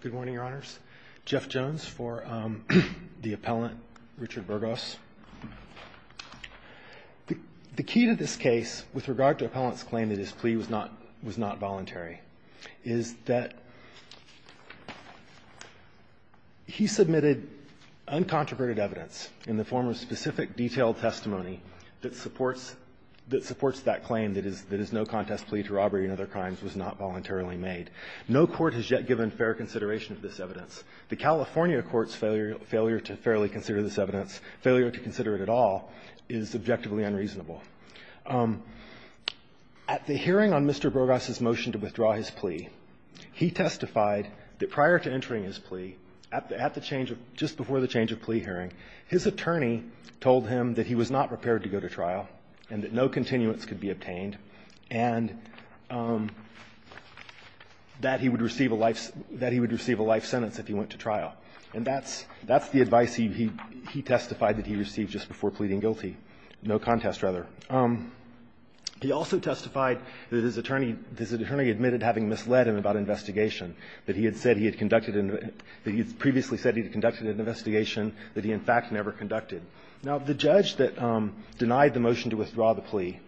Good morning, Your Honors. Jeff Jones for the appellant, Richard Burgos. The key to this case, with regard to the appellant's claim that his plea was not voluntary, is that he submitted uncontroverted evidence in the form of specific detailed testimony that supports that claim that his no-contest plea to robbery and other crimes was not voluntarily made. No court has yet given fair consideration to this evidence. The California court's failure to fairly consider this evidence, failure to consider it at all, is objectively unreasonable. At the hearing on Mr. Burgos's motion to withdraw his plea, he testified that prior to entering his plea, at the change of – just before the change of plea hearing, his attorney told him that he was not prepared to go to trial and that no continuance could be obtained. And that he would receive a life – that he would receive a life sentence if he went to trial. And that's – that's the advice he – he testified that he received just before pleading guilty. No contest, rather. He also testified that his attorney – his attorney admitted having misled him about investigation, that he had said he had conducted – that he had previously said he had conducted an investigation that he, in fact, never conducted. Now, the judge that denied the motion to withdraw the plea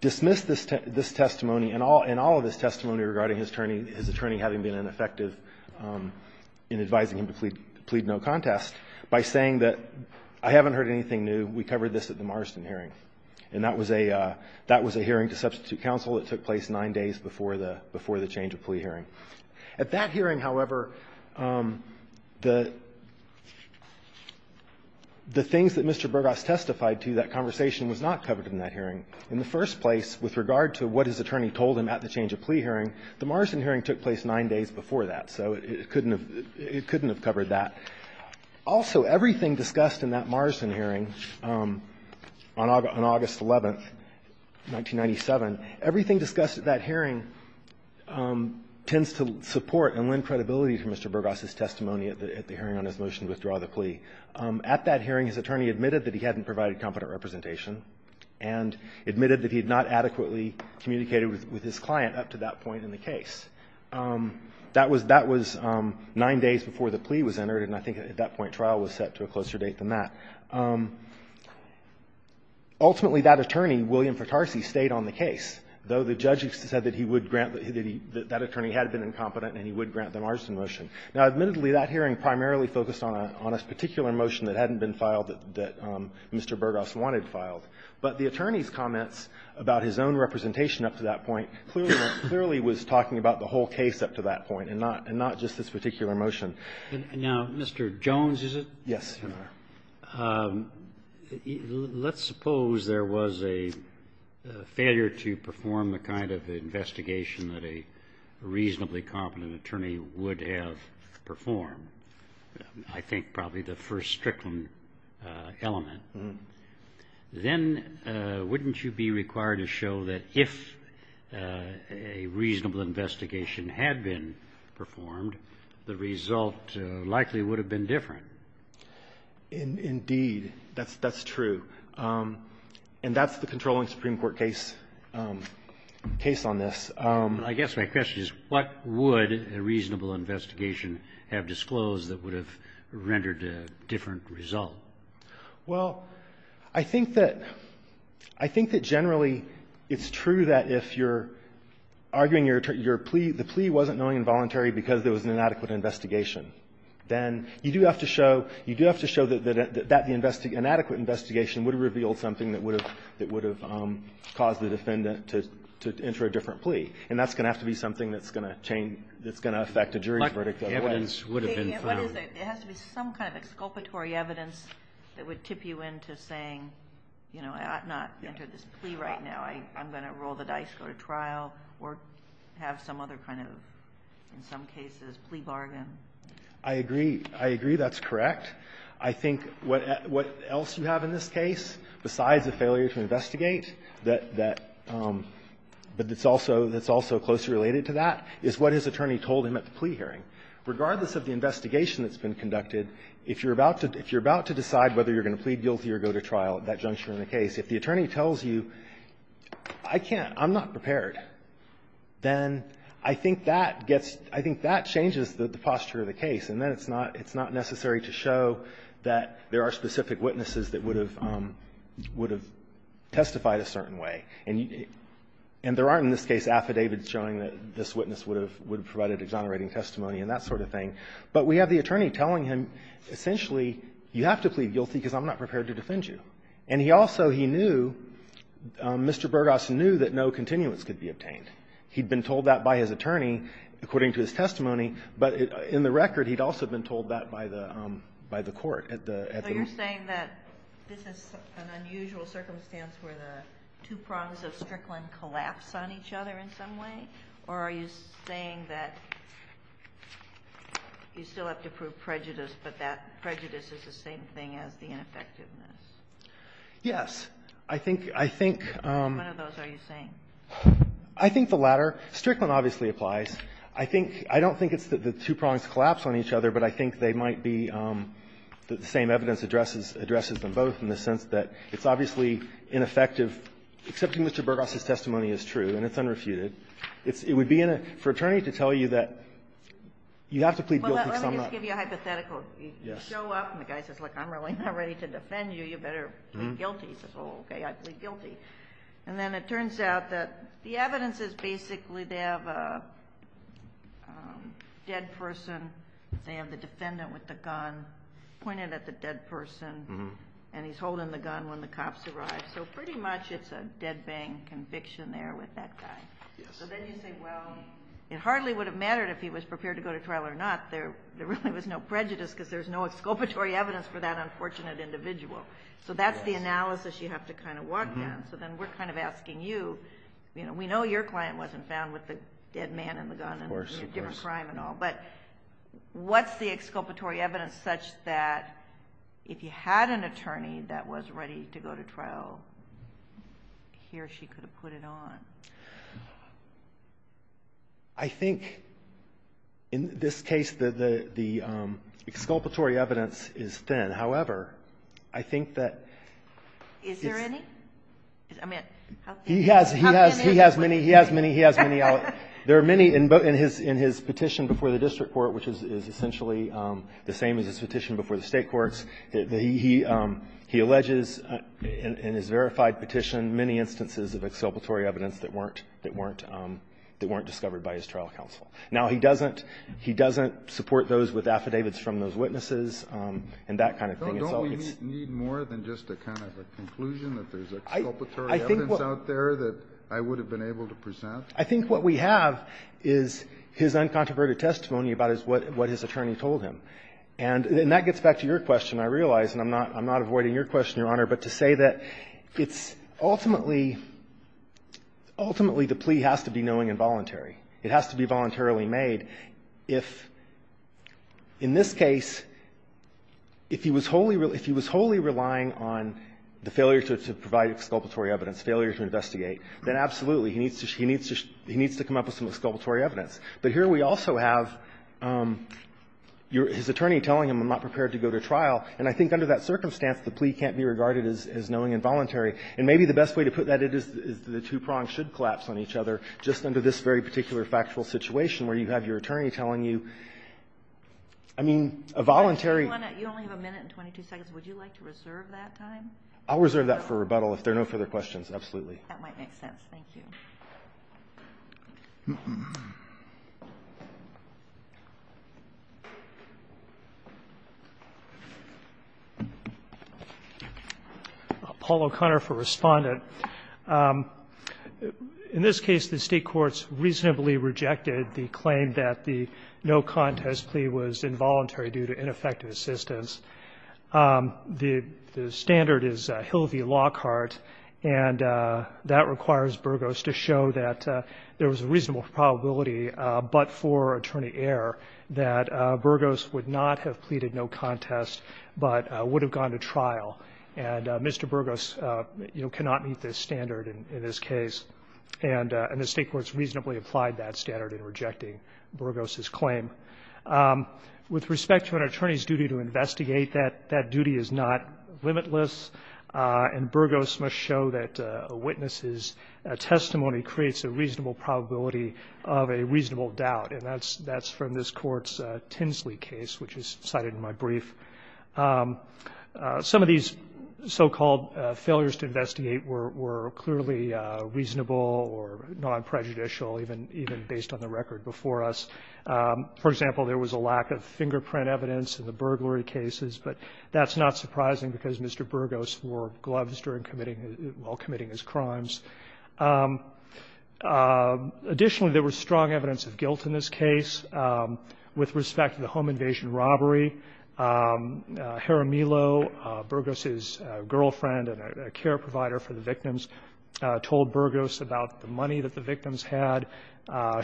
dismissed this testimony and all – and all of his testimony regarding his attorney – his attorney having been ineffective in advising him to plead – plead no contest by saying that, I haven't heard anything new. We covered this at the Marston hearing. And that was a – that was a hearing to substitute counsel. It took place nine days before the – before the change of plea hearing. At that hearing, however, the – the thing that's important is that the things that Mr. Burgos testified to, that conversation was not covered in that hearing. In the first place, with regard to what his attorney told him at the change of plea hearing, the Marston hearing took place nine days before that. So it couldn't have – it couldn't have covered that. Also, everything discussed in that Marston hearing on August – on August 11th, 1997, everything discussed at that hearing tends to support and lend credibility to Mr. Burgos' testimony at the hearing on his motion to withdraw the plea. At that hearing, his attorney admitted that he hadn't provided competent representation and admitted that he had not adequately communicated with his client up to that point in the case. That was – that was nine days before the plea was entered, and I think at that point trial was set to a closer date than that. Ultimately, that attorney, William Fratarsi, stayed on the case, though the judge said that he would grant – that that attorney had been incompetent and he would grant the Marston motion. Now, admittedly, that hearing primarily focused on a particular motion that hadn't been filed that Mr. Burgos wanted filed. But the attorney's comments about his own representation up to that point clearly was talking about the whole case up to that point and not – and not just this particular motion. And now, Mr. Jones, is it? Yes, Your Honor. Let's suppose there was a failure to perform the kind of investigation that a reasonably competent attorney would have performed. I think probably the first strickland element. Then wouldn't you be required to show that if a reasonable investigation had been performed, the result likely would have been different? Indeed. That's true. And that's the controlling Supreme Court case on this. I guess my question is, what would a reasonable investigation have disclosed that would have rendered a different result? Well, I think that – I think that generally it's true that if you're arguing your plea, the plea wasn't knowingly involuntary because there was an inadequate investigation, then you do have to show – you do have to show that the inadequate investigation would have revealed something that would have caused the defendant to enter a different plea. And that's going to have to be something that's going to change – that's going to affect a jury's verdict otherwise. But the evidence would have been found. What is it? It has to be some kind of exculpatory evidence that would tip you into saying, you know, I've not entered this plea right now. I'm going to roll the dice, go to trial, or have some other kind of, in some cases, plea bargain. I agree. I agree. That's correct. I think what else you have in this case, besides a failure to investigate, that – but it's also – that's also closely related to that, is what his attorney told him at the plea hearing. Regardless of the investigation that's been conducted, if you're about to decide whether you're going to plead guilty or go to trial at that point and you're not prepared, then I think that gets – I think that changes the posture of the case, and then it's not – it's not necessary to show that there are specific witnesses that would have – would have testified a certain way. And you – and there aren't, in this case, affidavits showing that this witness would have – would have provided exonerating testimony and that sort of thing. But we have the attorney telling him, essentially, you have to plead guilty because I'm not prepared to defend you. And he also – he knew – Mr. Burgos knew that no continuance could be obtained. He'd been told that by his attorney, according to his testimony, but in the record he'd also been told that by the – by the court at the – at the meeting. So you're saying that this is an unusual circumstance where the two prongs of Strickland collapse on each other in some way? Or are you saying that you still have to prove prejudice, but that prejudice is the same thing as the ineffectiveness? Yes. I think – I think – And which one of those are you saying? I think the latter. Strickland obviously applies. I think – I don't think it's that the two prongs collapse on each other, but I think they might be – that the same evidence addresses – addresses them both in the sense that it's obviously ineffective, except that Mr. Burgos' testimony is true and it's unrefuted. It's – it would be in a – for an attorney to tell you that you have to plead guilty because I'm not – Well, let me just give you a hypothetical. Yes. You show up and the guy says, look, I'm really not ready to defend you. You better plead guilty. He says, oh, okay, I plead guilty. And then it turns out that the evidence is basically they have a dead person. They have the defendant with the gun pointed at the dead person. And he's holding the gun when the cops arrive. So pretty much it's a dead bang conviction there with that guy. Yes. So then you say, well, it hardly would have mattered if he was prepared to go to trial or not. There really was no prejudice because there's no exculpatory evidence for that unfortunate individual. So that's the analysis you have to kind of walk down. So then we're kind of asking you, you know, we know your client wasn't found with the dead man and the gun and a different crime and all. Of course. But what's the exculpatory evidence such that if you had an attorney that was ready to go to trial, he or she could have put it on? I think in this case the exculpatory evidence is thin. However, I think that it's – Is there any? I mean, how many? He has many. He has many. There are many. In his petition before the district court, which is essentially the same as his petition before the State courts, he alleges in his verified petition many instances of exculpatory evidence that weren't discovered by his trial counsel. Now, he doesn't support those with affidavits from those witnesses and that kind of thing. Don't we need more than just a kind of a conclusion that there's exculpatory evidence out there that I would have been able to present? I think what we have is his uncontroverted testimony about what his attorney told him. And that gets back to your question, I realize. And I'm not avoiding your question, Your Honor. But to say that it's ultimately, ultimately the plea has to be knowing and voluntary. It has to be voluntarily made. If, in this case, if he was wholly – if he was wholly relying on the failure to provide exculpatory evidence, failure to investigate, then absolutely, he needs to – he needs to come up with some exculpatory evidence. But here we also have his attorney telling him, I'm not prepared to go to trial. And I think under that circumstance, the plea can't be regarded as knowing and voluntary. And maybe the best way to put that is the two prongs should collapse on each other just under this very particular factual situation where you have your attorney telling you, I mean, a voluntary – You only have a minute and 22 seconds. Would you like to reserve that time? I'll reserve that for rebuttal if there are no further questions. Absolutely. That might make sense. Paul O'Connor for Respondent. In this case, the State courts reasonably rejected the claim that the no contest plea was involuntary due to ineffective assistance. The standard is Hill v. Lockhart, and that requires Burgos to show that there was a reasonable probability but for attorney error that Burgos would not have pleaded no contest but would have gone to trial. And Mr. Burgos, you know, cannot meet this standard in this case. And the State courts reasonably applied that standard in rejecting Burgos' claim. With respect to an attorney's duty to investigate, that duty is not limitless, and Burgos must show that a witness's testimony creates a reasonable probability of a reasonable doubt. And that's from this Court's Tinsley case, which is cited in my brief. Some of these so-called failures to investigate were clearly reasonable or non-prejudicial even based on the record before us. For example, there was a lack of fingerprint evidence in the burglary cases, but that's not surprising because Mr. Burgos wore gloves during committing his crimes. Additionally, there was strong evidence of guilt in this case. With respect to the home invasion robbery, Hara Milo, Burgos' girlfriend and a care provider for the victims, told Burgos about the money that the victims had.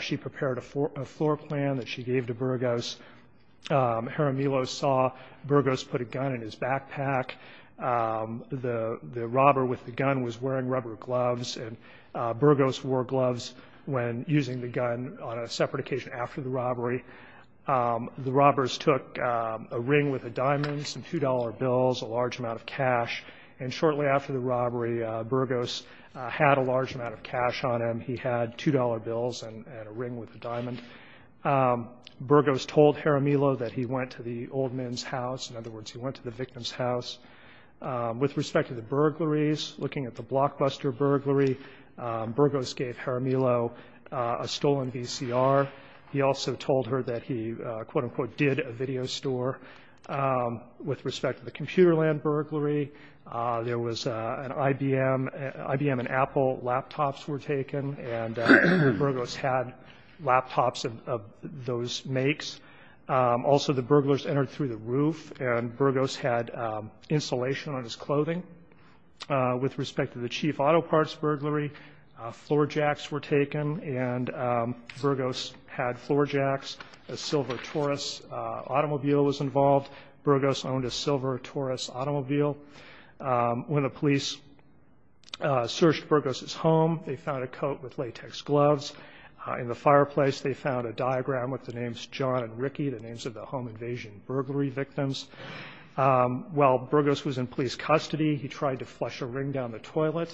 She prepared a floor plan that she gave to Burgos. Hara Milo saw Burgos put a gun in his backpack. The robber with the gun was wearing rubber gloves, and Burgos wore gloves when using the gun on a separate occasion after the robbery. The robbers took a ring with a diamond, some $2 bills, a large amount of cash. And shortly after the robbery, Burgos had a large amount of cash on him. He had $2 bills and a ring with a diamond. Burgos told Hara Milo that he went to the old man's house. In other words, he went to the victim's house. With respect to the burglaries, looking at the Blockbuster burglary, Burgos gave Hara Milo a stolen VCR. He also told her that he, quote, unquote, did a video store. With respect to the Computerland burglary, there was an IBM. IBM and Apple laptops were taken, and Burgos had laptops of those makes. Also, the burglars entered through the roof, and Burgos had insulation on his clothing. With respect to the Chief Auto Parts burglary, floor jacks were taken, and Burgos had floor jacks. A silver Taurus automobile was involved. Burgos owned a silver coat with latex gloves. In the fireplace, they found a diagram with the names John and Ricky, the names of the home invasion burglary victims. While Burgos was in police custody, he tried to flush a ring down the toilet.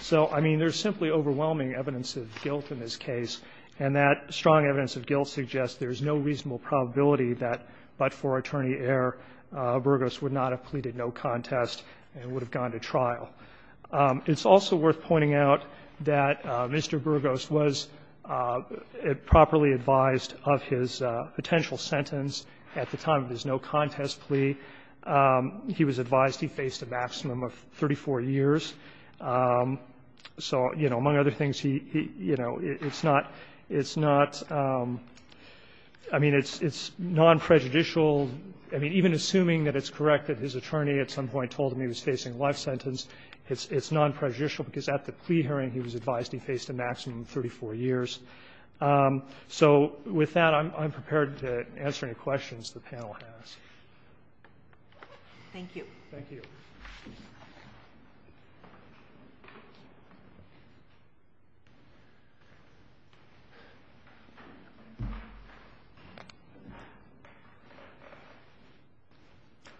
So, I mean, there's simply overwhelming evidence of guilt in this case, and that strong evidence of guilt suggests there's no reasonable probability that but for attorney error, Burgos would not have pleaded no contest and would have gone to court. I'm just pointing out that Mr. Burgos was properly advised of his potential sentence at the time of his no contest plea. He was advised he faced a maximum of 34 years. So, you know, among other things, he, you know, it's not, it's not, I mean, it's non-prejudicial. I mean, even assuming that it's correct that his attorney at some point told him he had a plea hearing, he was advised he faced a maximum of 34 years. So with that, I'm prepared to answer any questions the panel has. Thank you. Thank you.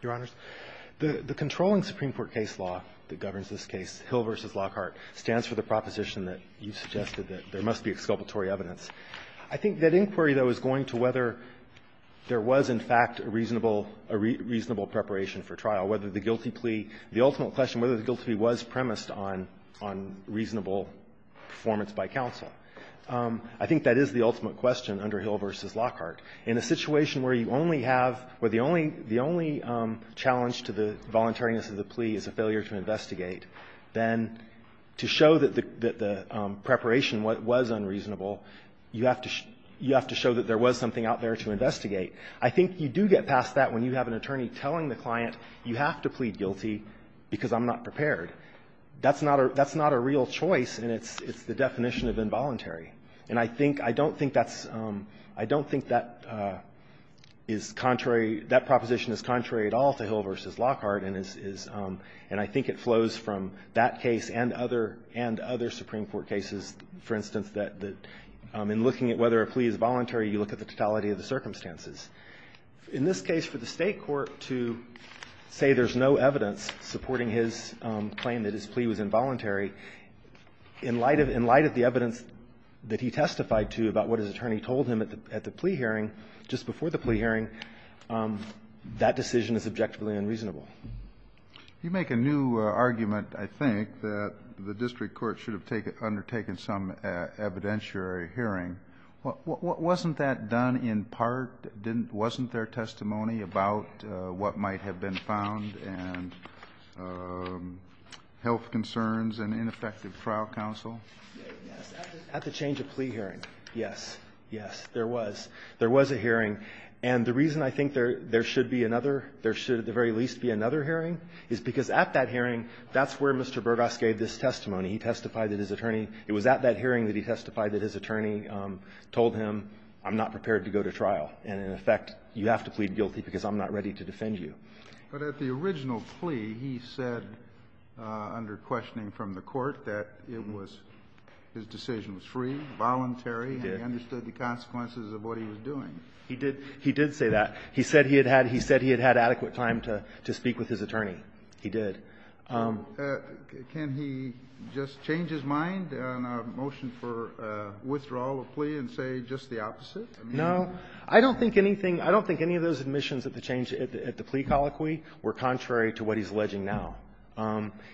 Your Honors, the controlling Supreme Court case law that governs this case, Hill v. Lockhart, stands for the proposition that you suggested that there must be exculpatory evidence. I think that inquiry, though, is going to whether there was, in fact, a reasonable, a reasonable preparation for trial, whether the guilty plea, the ultimate question whether the guilty plea was premised on reasonable performance by counsel. I think that is the ultimate question under Hill v. Lockhart. In a situation where you only have, where the only, the only challenge to the voluntariness of the plea is a failure to investigate, then to show that the, that the preparation was unreasonable, you have to, you have to show that there was something out there to investigate. I think you do get past that when you have an attorney telling the client you have to plead guilty because I'm not prepared. That's not a, that's not a real choice, and it's, it's the definition of involuntary. And I think, I don't think that's, I don't think that is contrary, that proposition is contrary at all to Hill v. Lockhart, and is, is, and I think it flows from that case and other, and other Supreme Court cases. For instance, that, that in looking at whether a plea is voluntary, you look at the totality of the circumstances. In this case, for the State court to say there's no evidence supporting his claim that his plea was involuntary, in light of, in light of the evidence that he testified to about what his attorney told him at the, at the plea hearing, just before the plea hearing, that decision is objectively unreasonable. You make a new argument, I think, that the district court should have taken, undertaken some evidentiary hearing. Wasn't that done in part? Didn't, wasn't there testimony about what might have been found and health concerns and ineffective trial counsel? Yes. At the change of plea hearing. Yes. Yes. There was. There was a hearing. And the reason I think there, there should be another, there should at the very least be another hearing, is because at that hearing, that's where Mr. Burgas gave this testimony. He testified that his attorney, it was at that hearing that he testified that his attorney told him, I'm not prepared to go to trial. And in effect, you have to plead guilty because I'm not ready to defend you. But at the original plea, he said, under questioning from the court, that it was, his decision was free, voluntary. He did. And he understood the consequences of what he was doing. He did, he did say that. He said he had had, he said he had had adequate time to, to speak with his attorney. He did. So can he just change his mind on a motion for withdrawal of plea and say just the opposite? No. I don't think anything, I don't think any of those admissions at the change at the plea colloquy were contrary to what he's alleging now.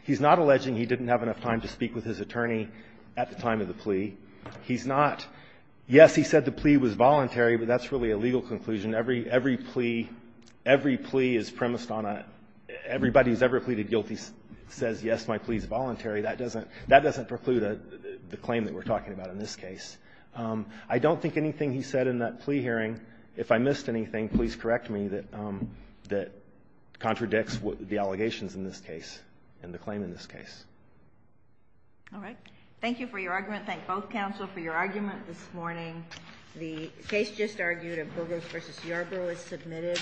He's not alleging he didn't have enough time to speak with his attorney at the time of the plea. He's not. Yes, he said the plea was voluntary, but that's really a legal conclusion. Every, every plea, every plea is premised on a, everybody who's ever pleaded guilty says, yes, my plea is voluntary. That doesn't, that doesn't preclude the claim that we're talking about in this case. I don't think anything he said in that plea hearing, if I missed anything, please correct me, that, that contradicts what the allegations in this case and the claim in this case. All right. Thank you for your argument. Thank both counsel for your argument this morning. The case just argued of Bogos versus Yarbrough is submitted.